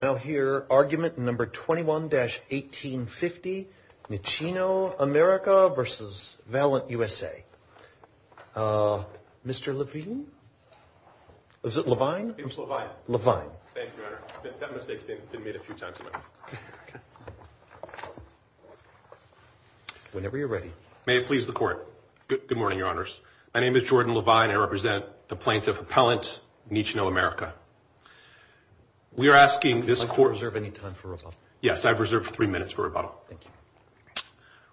Now here, argument number 21-1850, Nicino America versus Valent USA. Mr. Levine? Is it Levine? It's Levine. Levine. Thank you, Your Honor. That mistake's been made a few times. Whenever you're ready. May it please the court. Good morning, Your Honors. My name is Jordan Levine. I represent the plaintiff appellant, Nicino America. I'd like to reserve any time for rebuttal. Yes, I've reserved three minutes for rebuttal. Thank you.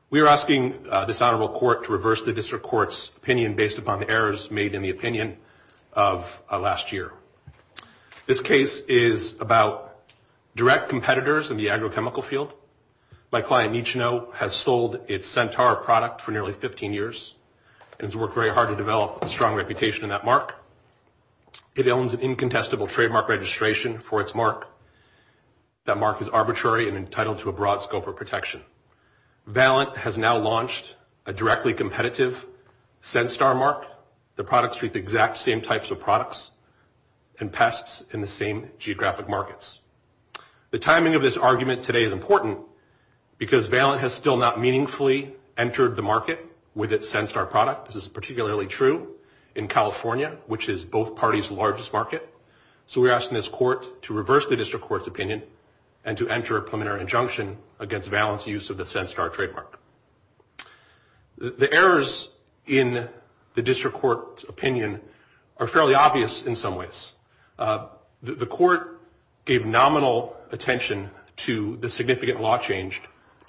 We are asking this honorable court to reverse the district court's opinion based upon the errors made in the opinion of last year. This case is about direct competitors in the agrochemical field. My client, Nicino, has sold its Centaur product for nearly 15 years and has worked very hard to develop a strong reputation in that mark. It owns an incontestable trademark registration for its mark. That mark is arbitrary and entitled to a broad scope of protection. Valent has now launched a directly competitive Centaur mark. The products treat the exact same types of products and pests in the same geographic markets. The timing of this argument today is important because Valent has still not meaningfully entered the market with its Centaur product. This is particularly true in California, which is both parties' largest market. So we're asking this court to reverse the district court's opinion and to enter a preliminary injunction against Valent's use of the Centaur trademark. The errors in the district court's opinion are fairly obvious in some ways. The court gave nominal attention to the significant law change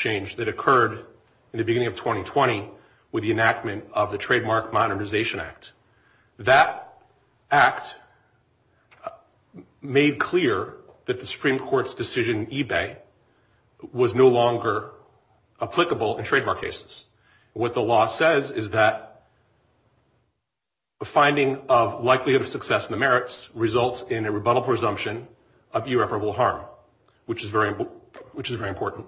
that occurred in the beginning of 2020 with the enactment of the Trademark Modernization Act. That act made clear that the Supreme Court's decision in eBay was no longer applicable in trademark cases. What the law says is that a finding of likelihood of success in the merits results in a rebuttable presumption of irreparable harm, which is very important.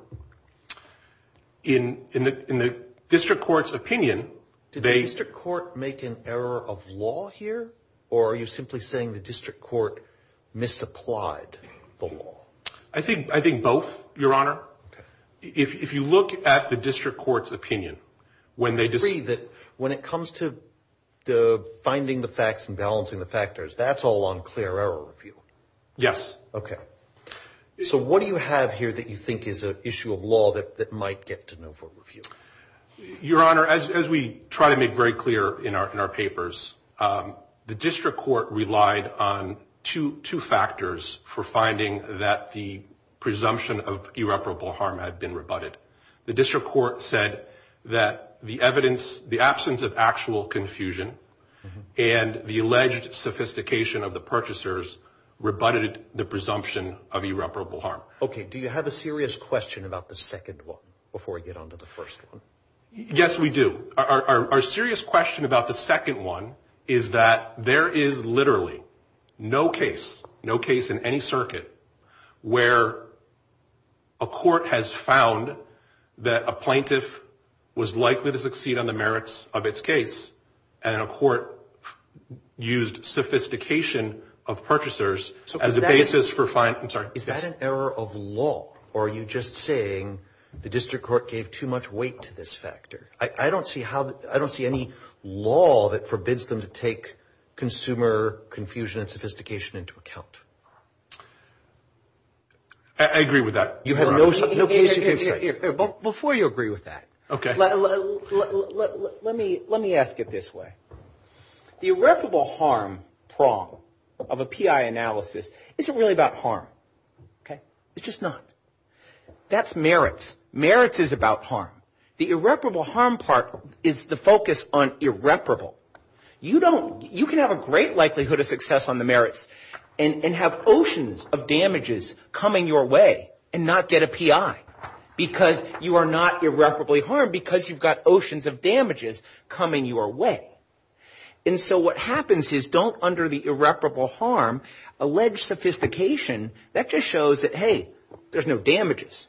In the district court's opinion, they- Do you have a number of law here or are you simply saying the district court misapplied the law? I think both, Your Honor. If you look at the district court's opinion, when they just- When it comes to the finding the facts and balancing the factors, that's all on clear error review. Yes. Okay. So what do you have here that you think is an issue of law that might get to know for review? Your Honor, as we try to make very clear in our papers, the district court relied on two factors for finding that the presumption of irreparable harm had been rebutted. The district court said that the evidence, the absence of actual confusion and the alleged sophistication of the purchasers rebutted the presumption of irreparable harm. Okay. Do you have a serious question about the second one before we get on to the first one? Yes, we do. Our serious question about the second one is that there is literally no case, no case in any circuit where a court has found that a plaintiff was likely to succeed on the merits of its case and a court used sophistication of purchasers as a basis for finding- I'm sorry. Is that an error of law or are you just saying the district court gave too much weight to this factor? I don't see how, I don't see any law that forbids them to take consumer confusion and sophistication into account. I agree with that. You have no case in any circuit. Before you agree with that, let me ask it this way. The irreparable harm prong of a PI analysis isn't really about harm, okay? It's just not. That's merits. Merits is about harm. The irreparable harm part is the focus on irreparable. You don't, you can have a great likelihood of success on the merits and have oceans of damages coming your way and not get a PI because you are not irreparably harmed because you've got oceans of damages coming your way. And so what happens is don't, under the irreparable harm, allege sophistication. That just shows that, hey, there's no damages.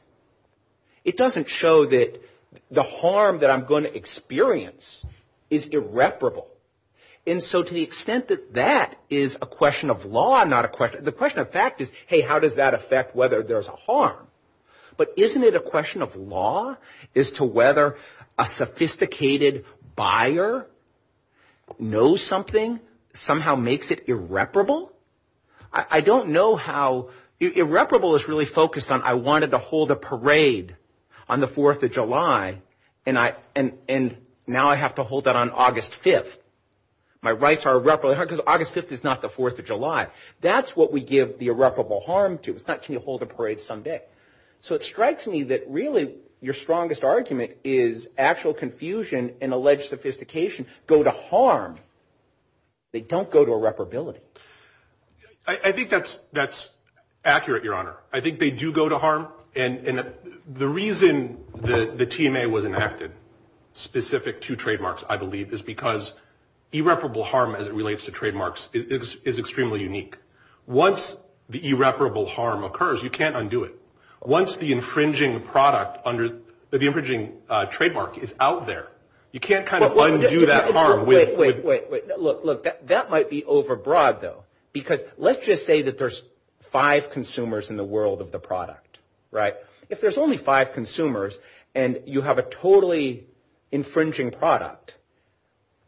It doesn't show that the harm that I'm gonna experience is irreparable. And so to the extent that that is a question of law, not a question, the question of fact is, hey, how does that affect whether there's a harm? But isn't it a question of law as to whether a sophisticated buyer knows something, somehow makes it irreparable? I don't know how, irreparable is really focused on, I wanted to hold a parade on the 4th of July and now I have to hold that on August 5th. My rights are irreparably harmed because August 5th is not the 4th of July. That's what we give the irreparable harm to. It's not, can you hold a parade someday? So it strikes me that really your strongest argument is actual confusion and alleged sophistication go to harm. They don't go to irreparability. I think that's accurate, Your Honor. I think they do go to harm. And the reason the TMA was enacted specific to trademarks, I believe, is because irreparable harm as it relates to trademarks is extremely unique. Once the irreparable harm occurs, you can't undo it. Once the infringing product under, the infringing trademark is out there, you can't kind of undo that harm. Wait, wait, wait, look, look, that might be overbroad though, because let's just say that there's five consumers in the world of the product, right? If there's only five consumers and you have a totally infringing product,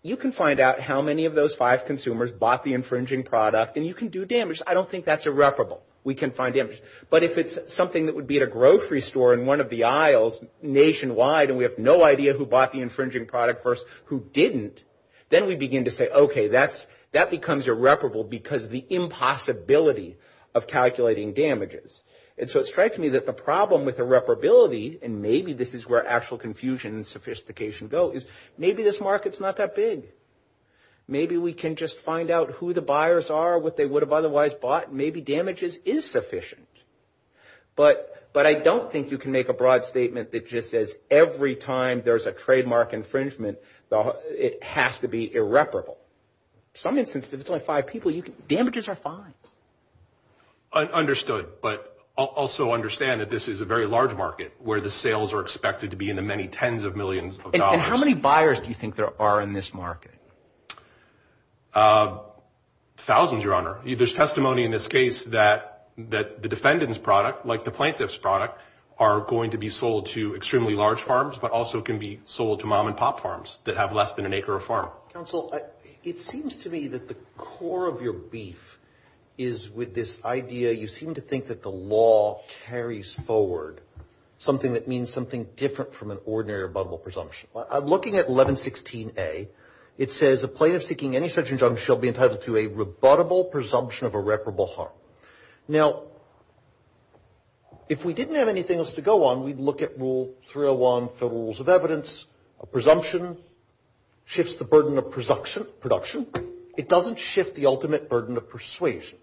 you can find out how many of those five consumers bought the infringing product and you can do damage. I don't think that's irreparable. We can find damage. But if it's something that would be at a grocery store in one of the aisles nationwide and we have no idea who bought the infringing product first, who didn't, then we begin to say, okay, that becomes irreparable because of the impossibility of calculating damages. And so it strikes me that the problem with irreparability, and maybe this is where actual confusion and sophistication go, is maybe this market's not that big. Maybe we can just find out who the buyers are, what they would have otherwise bought, and maybe damages is sufficient. But I don't think you can make a broad statement that just says every time there's a trademark infringement, it has to be irreparable. Some instances, if it's only five people, damages are fine. Understood, but also understand that this is a very large market where the sales are expected to be in the many tens of millions of dollars. And how many buyers do you think there are in this market? Thousands, Your Honor. There's testimony in this case that the defendant's product, like the plaintiff's product, are going to be sold to extremely large farms, but also can be sold to mom-and-pop farms that have less than an acre of farm. Counsel, it seems to me that the core of your beef is with this idea, you seem to think that the law carries forward something that means something different from an ordinary rebuttable presumption. I'm looking at 1116A. It says, a plaintiff seeking any such injunction shall be entitled to a rebuttable presumption of irreparable harm. Now, if we didn't have anything else to go on, we'd look at Rule 301 Federal Rules of Evidence. A presumption shifts the burden of production. It doesn't shift the ultimate burden of persuasion.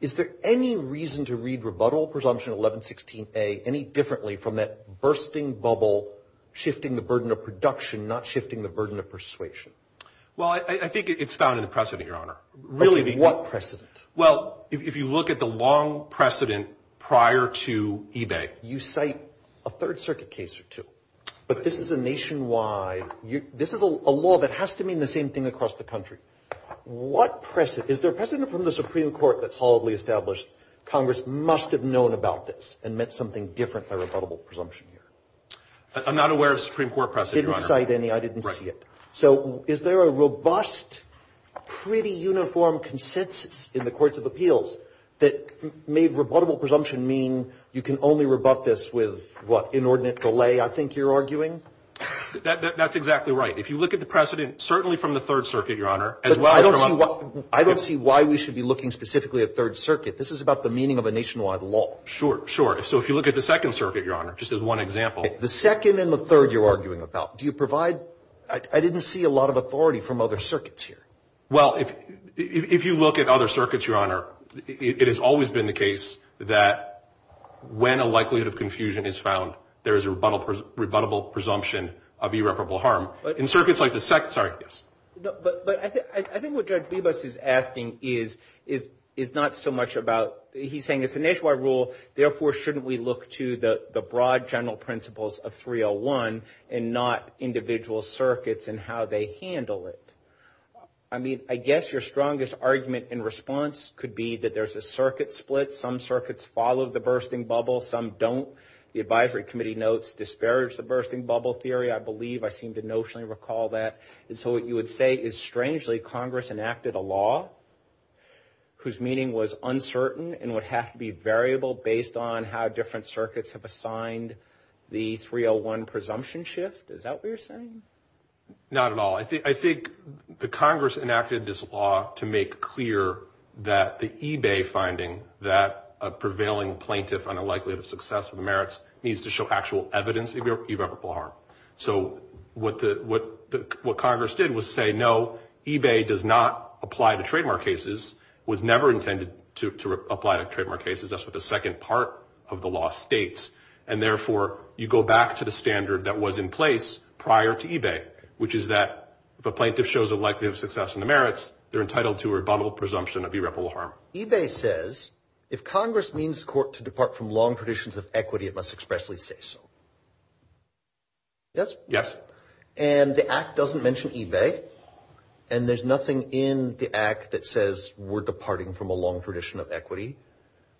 Is there any reason to read rebuttal presumption 1116A any differently from that bursting bubble, shifting the burden of production, not shifting the burden of persuasion? Well, I think it's found in the precedent, Your Honor. Really, what precedent? Well, if you look at the long precedent prior to eBay. You cite a Third Circuit case or two, but this is a nationwide, this is a law that has to mean the same thing across the country. What precedent? Is there precedent from the Supreme Court that solidly established, Congress must have known about this and meant something different by rebuttable presumption here? I'm not aware of Supreme Court precedent, Your Honor. Didn't cite any, I didn't see it. So is there a robust, pretty uniform consensus in the courts of appeals that made rebuttable presumption mean you can only rebut this with, what, inordinate delay, I think you're arguing? That's exactly right. If you look at the precedent, certainly from the Third Circuit, Your Honor, as well as from- I don't see why we should be looking specifically at Third Circuit. This is about the meaning of a nationwide law. Sure, sure. So if you look at the Second Circuit, Your Honor, just as one example. The second and the third you're arguing about, do you provide, I didn't see a lot of authority from other circuits here. Well, if you look at other circuits, Your Honor, it has always been the case that when a likelihood of confusion is found, there is a rebuttable presumption of irreparable harm. In circuits like the Second, sorry, yes. No, but I think what Judge Bibas is asking is not so much about, he's saying it's a nationwide rule, therefore shouldn't we look to the broad general principles of 301 and not individual circuits and how they handle it? I mean, I guess your strongest argument in response could be that there's a circuit split. Some circuits follow the bursting bubble, some don't. The advisory committee notes disparage the bursting bubble theory, I believe. I seem to notionally recall that. And so what you would say is strangely, Congress enacted a law whose meaning was uncertain and would have to be variable based on how different circuits have assigned the 301 presumption shift. Is that what you're saying? Not at all. I think the Congress enacted this law to make clear that the eBay finding that a prevailing plaintiff on a likelihood of success in the merits needs to show actual evidence of irreparable harm. So what Congress did was say, no, eBay does not apply to trademark cases, was never intended to apply to trademark cases. That's what the second part of the law states. And therefore, you go back to the standard that was in place prior to eBay, which is that if a plaintiff shows a likelihood of success in the merits, they're entitled to a rebuttable presumption of irreparable harm. eBay says, if Congress means court to depart from long traditions of equity, it must expressly say so. Yes? Yes. And the act doesn't mention eBay. And there's nothing in the act that says we're departing from a long tradition of equity.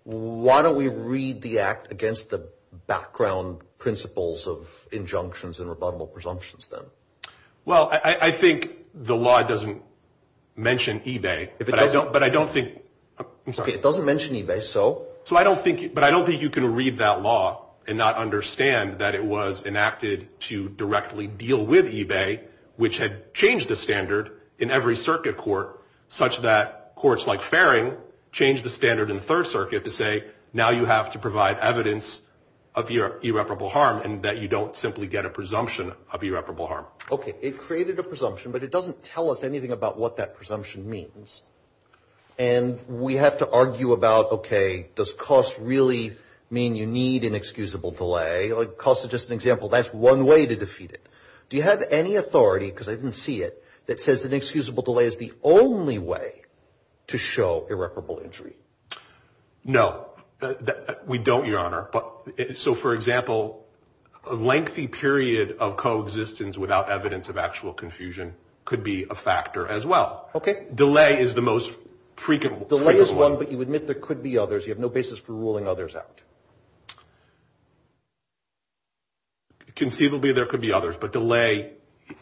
Why don't we read the act against the background principles of injunctions and rebuttable presumptions then? Well, I think the law doesn't mention eBay, but I don't think... I'm sorry. It doesn't mention eBay, so? So I don't think, but I don't think you can read that law and not understand that it was enacted to directly deal with eBay, which had changed the standard in every circuit court, such that courts like Faring changed the standard in the Third Circuit to say, now you have to provide evidence of irreparable harm and that you don't simply get a presumption of irreparable harm. Okay. It created a presumption, but it doesn't tell us anything about what that presumption means. And we have to argue about, okay, does cost really mean you need inexcusable delay? Cost is just an example. That's one way to defeat it. Do you have any authority, because I didn't see it, that says inexcusable delay is the only way to show irreparable injury? No. We don't, Your Honor. So for example, a lengthy period of coexistence without evidence of actual confusion could be a factor as well. Okay. Delay is the most frequent one. Delay is one, but you admit there could be others. You have no basis for ruling others out. Conceivably, there could be others, but delay,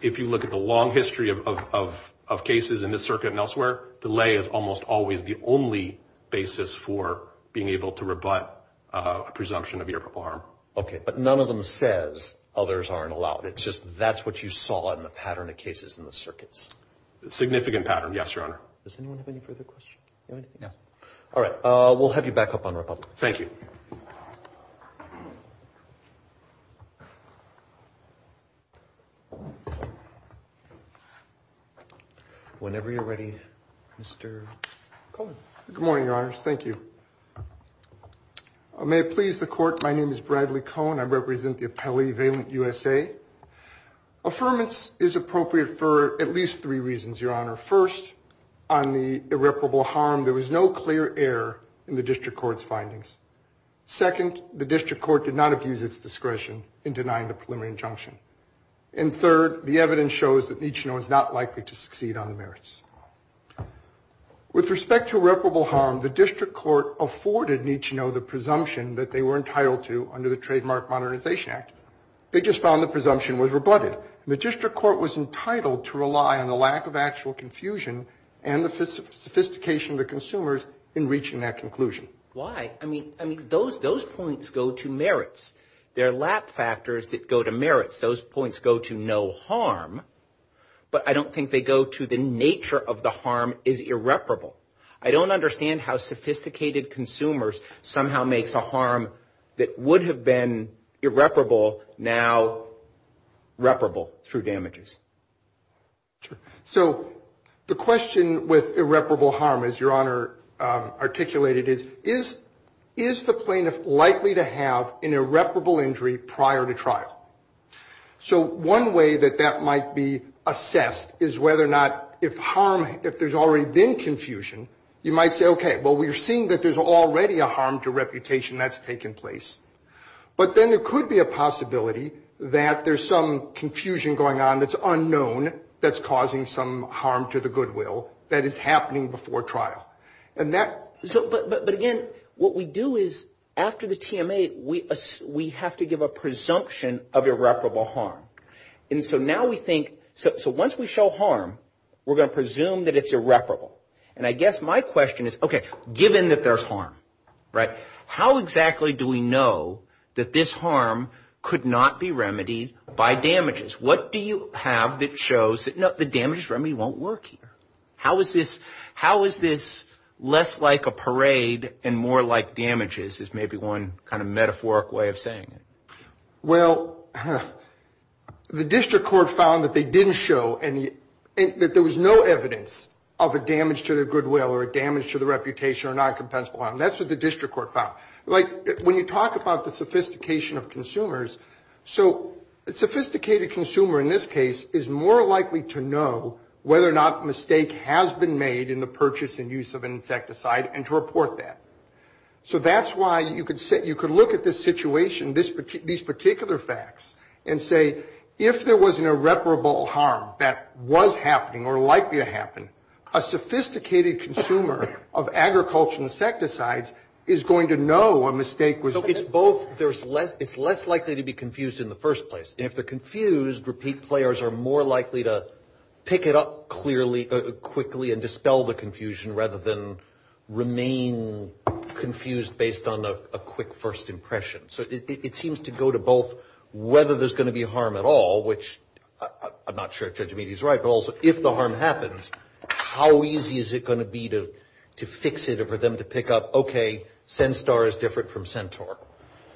if you look at the long history of cases in this circuit and elsewhere, delay is almost always the only basis for being able to rebut a presumption of irreparable harm. Okay, but none of them says others aren't allowed. It's just that's what you saw in the pattern of cases in the circuits. Significant pattern, yes, Your Honor. Does anyone have any further questions? You have any? No. All right, we'll have you back up on Republic. Thank you. Whenever you're ready, Mr. Cohen. Good morning, Your Honors. Thank you. May it please the court. My name is Bradley Cohen. I represent the appellee, Valent USA. Affirmance is appropriate for at least three reasons, Your Honor. First, on the irreparable harm, there was no clear error in the district court's findings. Second, the district court did not abuse its discretion in denying the preliminary injunction. And third, the evidence shows that Nichino is not likely to succeed on the merits. With respect to irreparable harm, the district court afforded Nichino the presumption that they were entitled to under the Trademark Modernization Act. They just found the presumption was rebutted. The district court was entitled to rely on the lack of actual confusion and the sophistication of the consumers in reaching that conclusion. Why? I mean, those points go to merits. There are lap factors that go to merits. Those points go to no harm, but I don't think they go to the nature of the harm is irreparable. I don't understand how sophisticated consumers somehow makes a harm that would have been irreparable now reparable through damages. So the question with irreparable harm, as Your Honor articulated, is the plaintiff likely to have an irreparable injury prior to trial? So one way that that might be assessed is whether or not if harm, if there's already been confusion, you might say, okay, well, we're seeing that there's already a harm to reputation that's taken place, but then there could be a possibility that there's some confusion going on that's unknown that's causing some harm to the goodwill that is happening before trial. But again, what we do is after the TMA, we have to give a presumption of irreparable harm. And so now we think, so once we show harm, we're going to presume that it's irreparable. And I guess my question is, okay, given that there's harm, right, how exactly do we know that this harm could not be remedied by damages? What do you have that shows that, no, the damages remedy won't work here? How is this less like a parade and more like damages is maybe one kind of metaphoric way of saying it. Well, the district court found that they didn't show that there was no evidence of a damage to their goodwill or a damage to the reputation or non-compensable harm. That's what the district court found. Like when you talk about the sophistication of consumers, so a sophisticated consumer in this case is more likely to know whether or not mistake has been made in the purchase and use of an insecticide and to report that. So that's why you could look at this situation, these particular facts and say, if there was an irreparable harm that was happening or likely to happen, a sophisticated consumer of agriculture insecticides is going to know a mistake was made. So it's both, it's less likely to be confused in the first place. And if they're confused, repeat players are more likely to pick it up quickly and dispel the confusion rather than remain confused based on a quick first impression. So it seems to go to both whether there's going to be a harm at all, which I'm not sure if Judge Meade is right, but also if the harm happens, how easy is it going to be to fix it or for them to pick up, okay, Centaur is different from Centaur.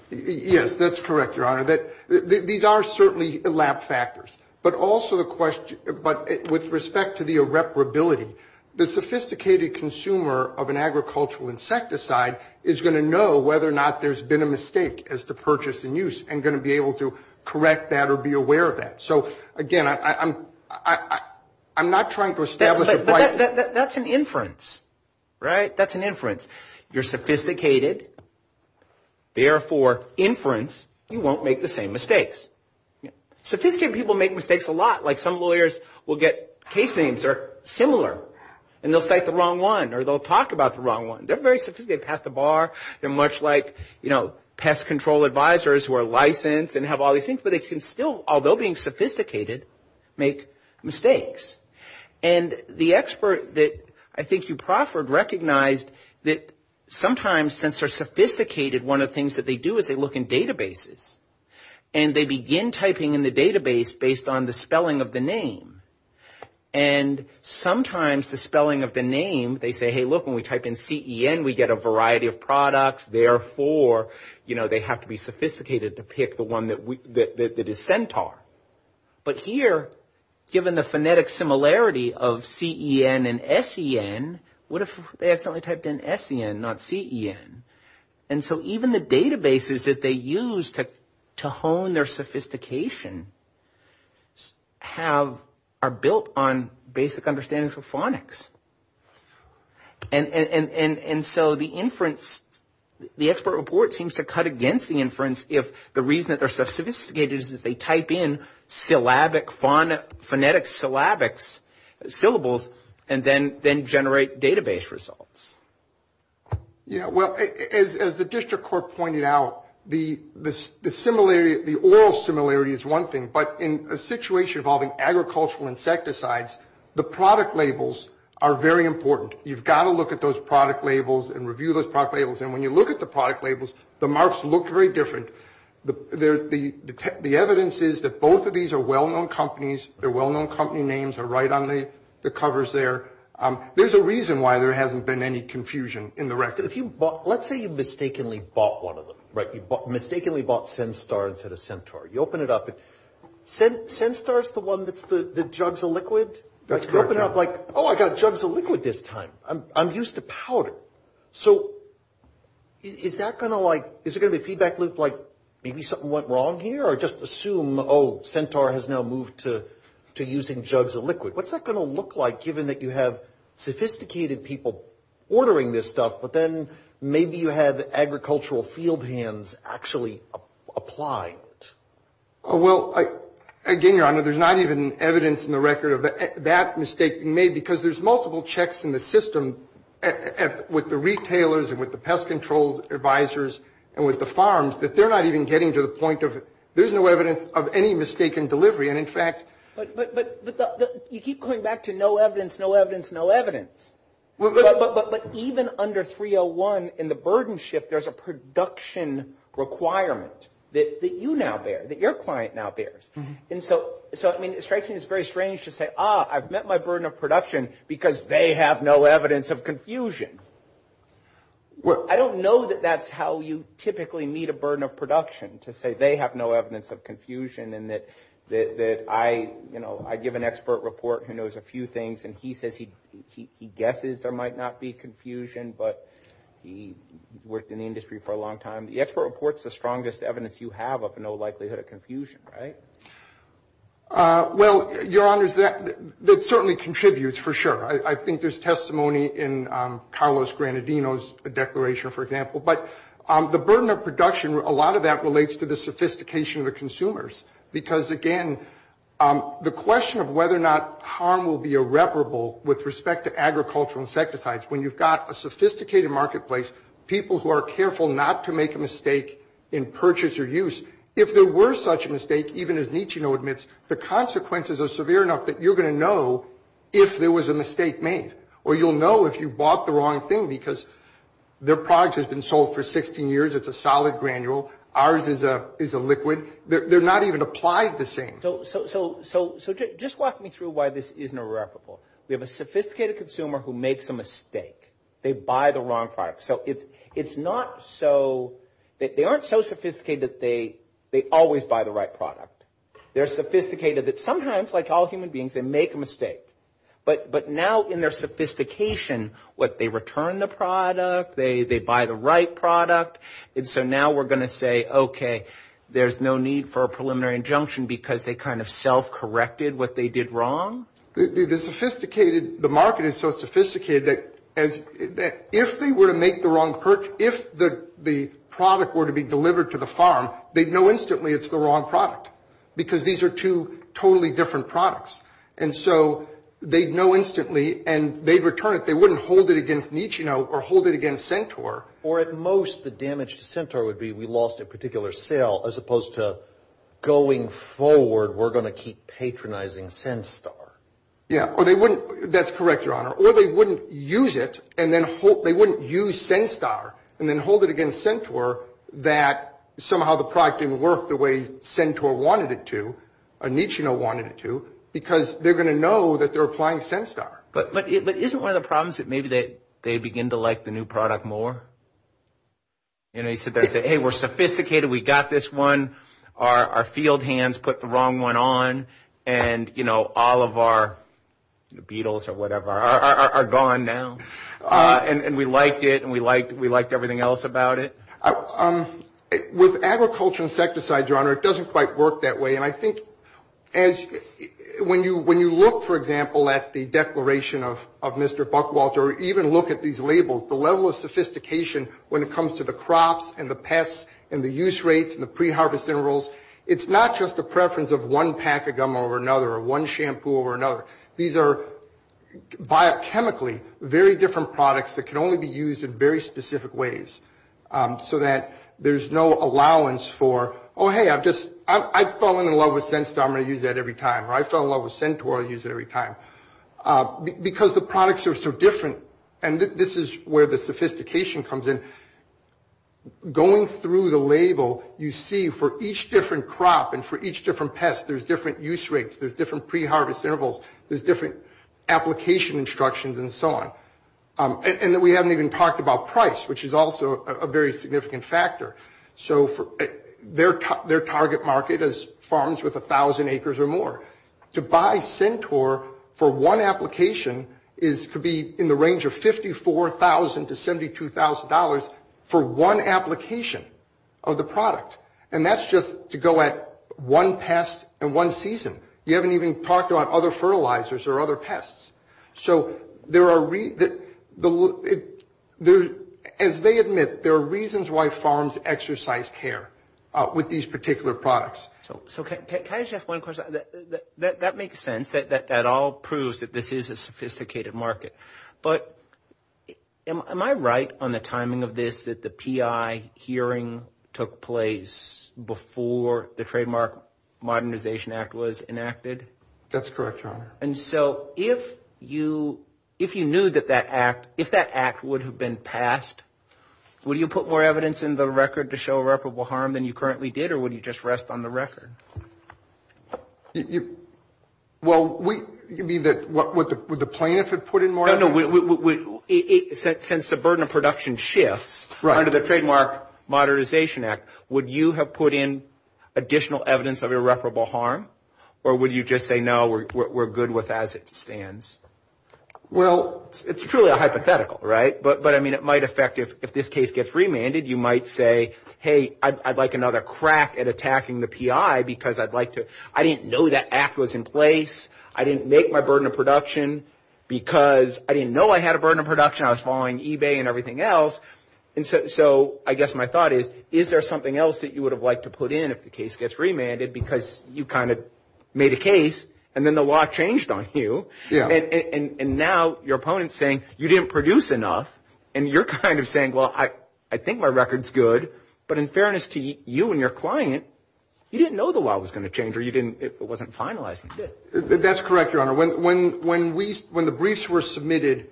Yes, that's correct, Your Honor. These are certainly lab factors, but also the question, but with respect to the irreparability, the sophisticated consumer of an agricultural insecticide is going to know whether or not there's been a mistake as to purchase and use and going to be able to correct that or be aware of that. So again, I'm not trying to establish a point. That's an inference, right? That's an inference. You're sophisticated, therefore inference, you won't make the same mistakes. Sophisticated people make mistakes a lot. Like some lawyers will get case names or similar and they'll cite the wrong one or they'll talk about the wrong one. They're very sophisticated, they pass the bar. They're much like, you know, pest control advisors who are licensed and have all these things, but they can still, although being sophisticated, make mistakes. And the expert that I think you proffered recognized that sometimes since they're sophisticated, one of the things that they do is they look in databases and they begin typing in the database based on the spelling of the name. And sometimes the spelling of the name, they say, hey, look, when we type in C-E-N, we get a variety of products. Therefore, you know, they have to be sophisticated to pick the one that is centaur. But here, given the phonetic similarity of C-E-N and S-E-N, what if they accidentally typed in S-E-N, not C-E-N? And so even the databases that they use to hone their sophistication are built on basic understandings of phonics. And so the inference, the expert report seems to cut against the inference if the reason that they're so sophisticated is that they type in phonetic syllabics, syllables, and then generate database results. Yeah, well, as the district court pointed out, the similarity, the oral similarity is one thing, but in a situation involving agricultural insecticides, the product labels are very important. You've got to look at those product labels and review those product labels. And when you look at the product labels, the marks look very different. The evidence is that both of these are well-known companies. Their well-known company names are right on the covers there. There's a reason why there hasn't been any confusion in the record. Let's say you mistakenly bought one of them, right? You mistakenly bought Senstar instead of Centaur. You open it up, and Senstar's the one that's the jugs of liquid? That's correct, yeah. You open it up like, oh, I got jugs of liquid this time. I'm used to powder. So is there gonna be a feedback loop like maybe something went wrong here, or just assume, oh, Centaur has now moved to using jugs of liquid? What's that gonna look like given that you have sophisticated people ordering this stuff, but then maybe you have agricultural field hands actually applying it? Oh, well, again, Your Honor, there's not even evidence in the record of that mistake being made because there's multiple checks in the system with the retailers and with the pest control advisors and with the farms that they're not even getting to the point of, there's no evidence of any mistaken delivery, and in fact... But you keep coming back to no evidence, no evidence, no evidence. But even under 301, in the burden shift, there's a production requirement that you now bear, that your client now bears. And so, I mean, it strikes me as very strange to say, ah, I've met my burden of production because they have no evidence of confusion. I don't know that that's how you typically meet a burden of production, to say they have no evidence of confusion and that I give an expert report who knows a few things, and he says he guesses there might not be confusion, but he worked in the industry for a long time. The expert reports the strongest evidence you have of no likelihood of confusion, right? Well, your honors, that certainly contributes, for sure. I think there's testimony in Carlos Granadino's declaration, for example. But the burden of production, a lot of that relates to the sophistication of the consumers. Because again, the question of whether or not harm will be irreparable with respect to agricultural insecticides, when you've got a sophisticated marketplace, people who are careful not to make a mistake in purchase or use. If there were such a mistake, even as Nicino admits, the consequences are severe enough that you're gonna know if there was a mistake made. Or you'll know if you bought the wrong thing because their product has been sold for 16 years, it's a solid granule. Ours is a liquid. They're not even applied the same. So just walk me through why this isn't irreparable. We have a sophisticated consumer who makes a mistake. They buy the wrong product. So it's not so, they aren't so sophisticated that they always buy the right product. They're sophisticated that sometimes, like all human beings, they make a mistake. But now in their sophistication, what they return the product, they buy the right product. And so now we're gonna say, okay, there's no need for a preliminary injunction because they kind of self-corrected what they did wrong. The sophisticated, the market is so sophisticated that if they were to make the wrong purchase, if the product were to be delivered to the farm, they'd know instantly it's the wrong product because these are two totally different products. And so they'd know instantly and they'd return it. They wouldn't hold it against Nicino or hold it against Centaur. Or at most the damage to Centaur would be, we lost a particular sale as opposed to going forward, we're gonna keep patronizing Centaur. Yeah, or they wouldn't, that's correct, your honor. Or they wouldn't use it and then hold, they wouldn't use Centaur and then hold it against Centaur that somehow the product didn't work the way Centaur wanted it to, or Nicino wanted it to because they're gonna know that they're applying Centaur. But isn't one of the problems that maybe that they begin to like the new product more? You know, you sit there and say, hey, we're sophisticated. We got this one. Our field hands put the wrong one on and all of our beetles or whatever are gone now. And we liked it and we liked everything else about it. With agriculture insecticide, your honor, it doesn't quite work that way. And I think when you look, for example, at the declaration of Mr. Buckwalter, or even look at these labels, the level of sophistication when it comes to the crops and the pests and the use rates and the pre-harvest intervals, it's not just a preference of one pack of gum over another or one shampoo over another. These are biochemically very different products that can only be used in very specific ways so that there's no allowance for, oh, hey, I've just, I've fallen in love with Centaur, I'm gonna use that every time. Or I fell in love with Centaur, I'll use it every time. Because the products are so different. And this is where the sophistication comes in. And going through the label, you see for each different crop and for each different pest, there's different use rates, there's different pre-harvest intervals, there's different application instructions and so on. And that we haven't even talked about price, which is also a very significant factor. So their target market is farms with 1,000 acres or more. To buy Centaur for one application is to be in the range of $54,000 to $72,000 for one application of the product. And that's just to go at one pest and one season. You haven't even talked about other fertilizers or other pests. So there are, as they admit, there are reasons why farms exercise care with these particular products. So can I just ask one question? That makes sense, that that all proves that this is a sophisticated market. But am I right on the timing of this that the PI hearing took place before the Trademark Modernization Act was enacted? That's correct, Your Honor. And so if you knew that that act, if that act would have been passed, would you put more evidence in the record to show irreparable harm than you currently did or would you just rest on the record? Well, would the plaintiff have put in more evidence? No, no, since the burden of production shifts under the Trademark Modernization Act, would you have put in additional evidence of irreparable harm? Or would you just say, no, we're good with as it stands? Well, it's truly a hypothetical, right? But I mean, it might affect if this case gets remanded, you might say, hey, I'd like another crack at attacking the PI, because I didn't know that act was in place. I didn't make my burden of production because I didn't know I had a burden of production. I was following eBay and everything else. And so I guess my thought is, is there something else that you would have liked to put in if the case gets remanded because you kind of made a case and then the law changed on you? Yeah. And now your opponent's saying you didn't produce enough and you're kind of saying, well, I think my record's good. But in fairness to you and your client, you didn't know the law was going to change or it wasn't finalized. That's correct, Your Honor. When the briefs were submitted,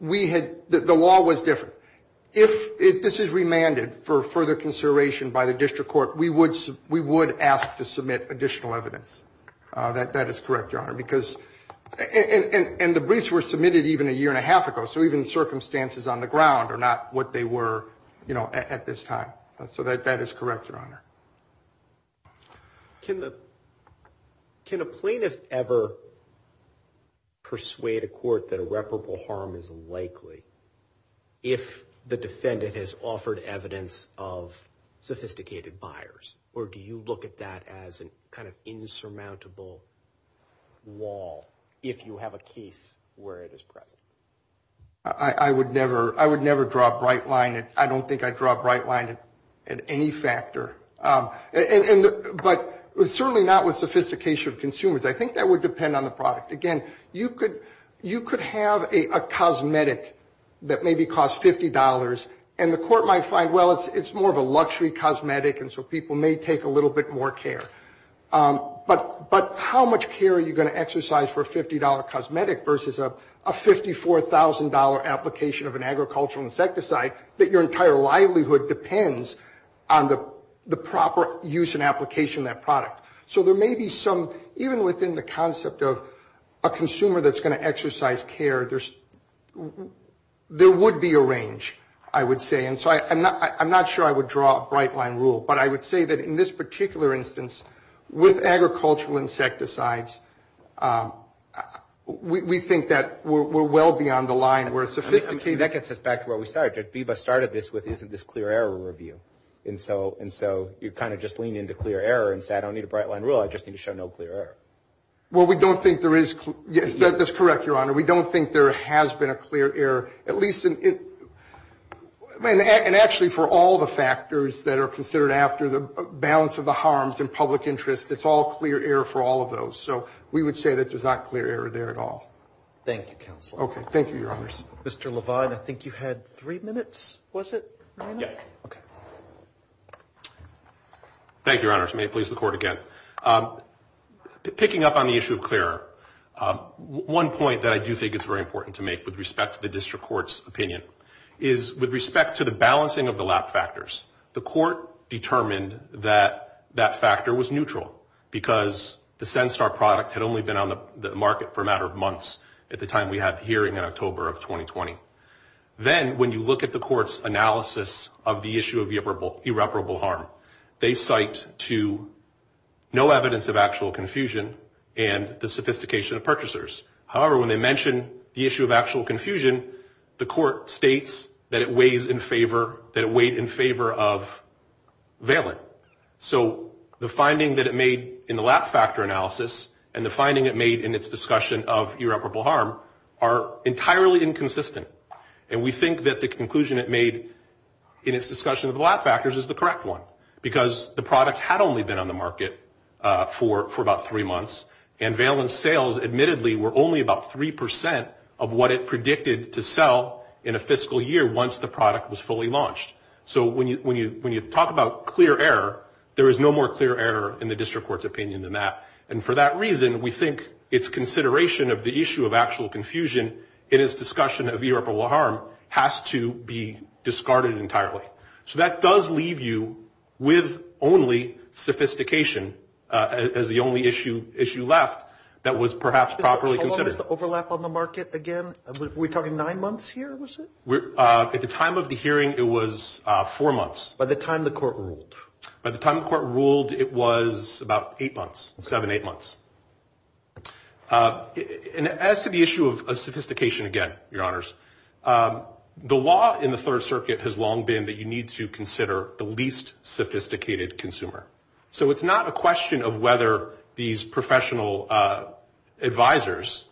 the law was different. If this is remanded for further consideration by the district court, we would ask to submit additional evidence. That is correct, Your Honor. And the briefs were submitted even a year and a half ago. So even circumstances on the ground are not what they were at this time. So that is correct, Your Honor. Can a plaintiff ever persuade a court that irreparable harm is unlikely if the defendant has offered evidence of sophisticated buyers or do you look at that as an kind of insurmountable wall if you have a case where it is present? I would never draw a bright line. I don't think I'd draw a bright line at any factor. And, but certainly not with sophistication of consumers. I think that would depend on the product. Again, you could have a cosmetic that maybe costs $50 and the court might find, well, it's more of a luxury cosmetic and so people may take a little bit more care. But how much care are you gonna exercise for a $50 cosmetic versus a $54,000 application of an agricultural insecticide that your entire livelihood depends on the proper use and application of that product? So there may be some, even within the concept of a consumer that's gonna exercise care, there would be a range, I would say. And so I'm not sure I would draw a bright line rule, but I would say that in this particular instance with agricultural insecticides, we think that we're well beyond the line where a sophisticated- That gets us back to where we started. FIBA started this with, isn't this clear error review? And so you kind of just lean into clear error and say, I don't need a bright line rule, I just need to show no clear error. Well, we don't think there is, yes, that's correct, Your Honor. We don't think there has been a clear error, at least in, and actually for all the factors that are considered after the balance of the harms in public interest, it's all clear error for all of those. So we would say that there's not clear error there at all. Thank you, Counselor. Okay, thank you, Your Honors. Mr. Levine, I think you had three minutes, was it? Yes. Okay. Thank you, Your Honors. May it please the Court again. Picking up on the issue of clear error, one point that I do think is very important to make with respect to the District Court's opinion is with respect to the balancing of the lab factors, the Court determined that that factor was neutral because the SenStar product had only been on the market for a matter of months at the time we had the hearing in October of 2020. Then when you look at the Court's analysis of the issue of irreparable harm, they cite to no evidence of actual confusion and the sophistication of purchasers. However, when they mention the issue of actual confusion, the Court states that it weighs in favor, that it weighed in favor of Valen. So the finding that it made in the lab factor analysis and the finding it made in its discussion of irreparable harm are entirely inconsistent. And we think that the conclusion it made in its discussion of the lab factors is the correct one because the product had only been on the market for about three months and Valen's sales admittedly were only about 3% of what it predicted to sell in a fiscal year once the product was fully launched. So when you talk about clear error, there is no more clear error in the District Court's opinion than that. And for that reason, we think it's consideration of the issue of actual confusion in its discussion of irreparable harm has to be discarded entirely. So that does leave you with only sophistication as the only issue left that was perhaps properly considered. The overlap on the market again, we're talking nine months here, was it? At the time of the hearing, it was four months. By the time the Court ruled? By the time the Court ruled, it was about eight months, seven, eight months. And as to the issue of sophistication again, your honors, the law in the Third Circuit has long been that you need to consider the least sophisticated consumer. So it's not a question of whether these professional advisors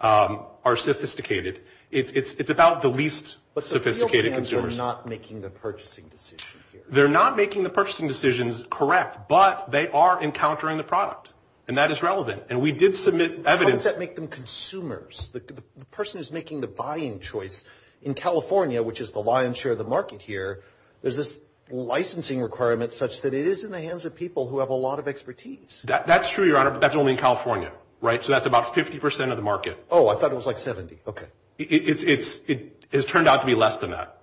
are sophisticated. It's about the least sophisticated consumers. They're not making the purchasing decision here. They're not making the purchasing decisions correct, but they are encountering the product. And that is relevant. And we did submit evidence. How does that make them consumers? The person who's making the buying choice, in California, which is the lion's share of the market here, there's this licensing requirement such that it is in the hands of people who have a lot of expertise. That's true, your honor, but that's only in California. So that's about 50% of the market. Oh, I thought it was like 70, okay. It has turned out to be less than that.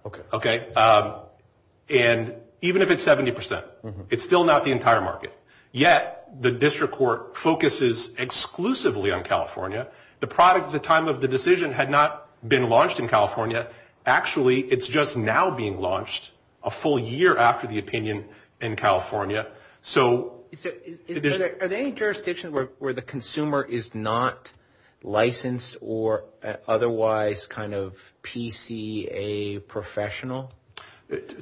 And even if it's 70%, it's still not the entire market. Yet, the district court focuses exclusively on California. The product at the time of the decision had not been launched in California. Actually, it's just now being launched a full year after the opinion in California. So there's- So are there any jurisdictions where the consumer is not licensed or otherwise kind of PCA professional?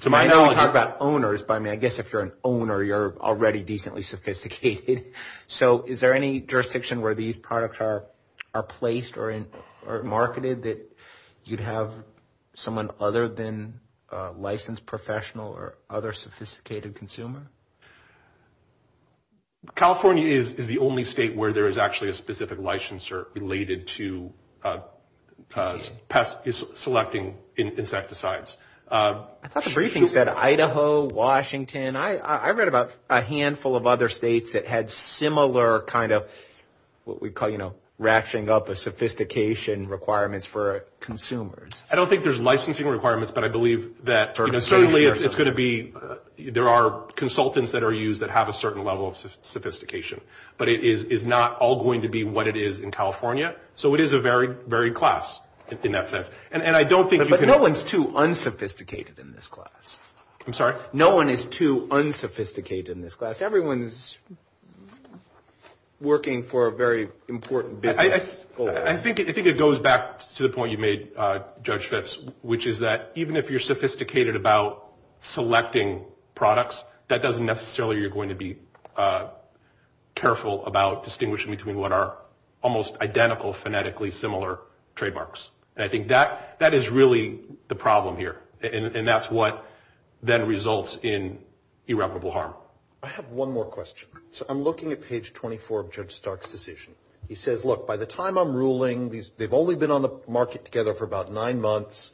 To my knowledge- I know we talk about owners, but I mean, I guess if you're an owner, you're already decently sophisticated. So is there any jurisdiction where these products are placed or marketed that you'd have someone other than a licensed professional or other sophisticated consumer? California is the only state where there is actually a specific licensor related to selecting insecticides. I thought the briefing said Idaho, Washington. I read about a handful of other states that had similar kind of what we call, ratcheting up a sophistication requirements for consumers. I don't think there's licensing requirements, but I believe that certainly it's going to be, there are consultants that are used that have a certain level of sophistication, but it is not all going to be what it is in California. So it is a very, very class in that sense. And I don't think- But no one's too unsophisticated in this class. I'm sorry? No one is too unsophisticated in this class. Everyone's working for a very important business. I think it goes back to the point you made, Judge Phipps, which is that even if you're sophisticated about selecting products, that doesn't necessarily, you're going to be careful about distinguishing between what are almost identical, phonetically similar trademarks. And I think that is really the problem here. And that's what then results in irreparable harm. I have one more question. So I'm looking at page 24 of Judge Stark's decision. He says, look, by the time I'm ruling these, they've only been on the market together for about nine months.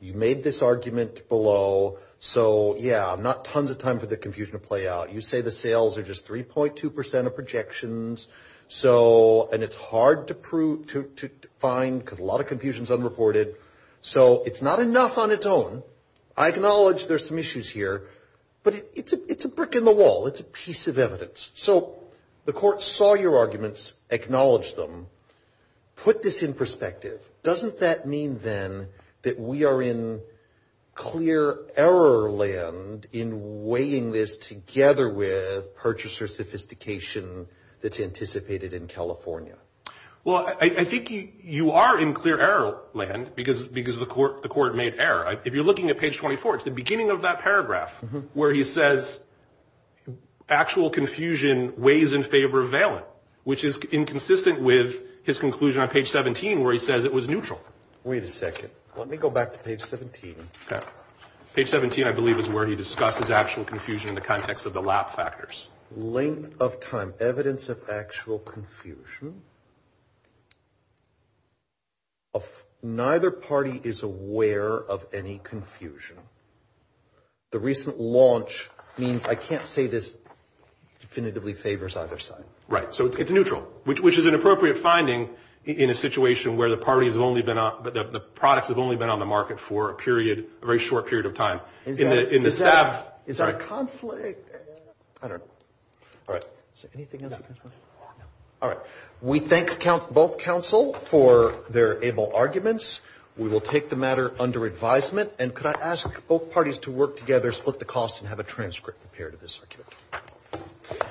You made this argument below. So yeah, I'm not tons of time for the confusion to play out. You say the sales are just 3.2% of projections. So, and it's hard to find because a lot of confusion is unreported. So it's not enough on its own. I acknowledge there's some issues here, but it's a brick in the wall. It's a piece of evidence. So the court saw your arguments, acknowledged them, put this in perspective. Doesn't that mean then that we are in clear error land in weighing this together with purchaser sophistication that's anticipated in California? Well, I think you are in clear error land because the court made error. If you're looking at page 24, it's the beginning of that paragraph where he says actual confusion weighs in favor of valent, which is inconsistent with his conclusion on page 17, where he says it was neutral. Wait a second. Let me go back to page 17. Okay. Page 17, I believe is where he discusses actual confusion in the context of the lap factors. Length of time, evidence of actual confusion. Neither party is aware of any confusion. The recent launch means, I can't say this definitively favors either side. Right. So it's neutral, which is an appropriate finding in a situation where the parties have only been on, but the products have only been on the market for a period, a very short period of time. In the staff. Is that a conflict? I don't know. All right. Is there anything else you guys want to say? No. All right. We thank both counsel for their able arguments. We will take the matter under advisement. And could I ask both parties to work together, split the costs and have a transcript compared to this argument.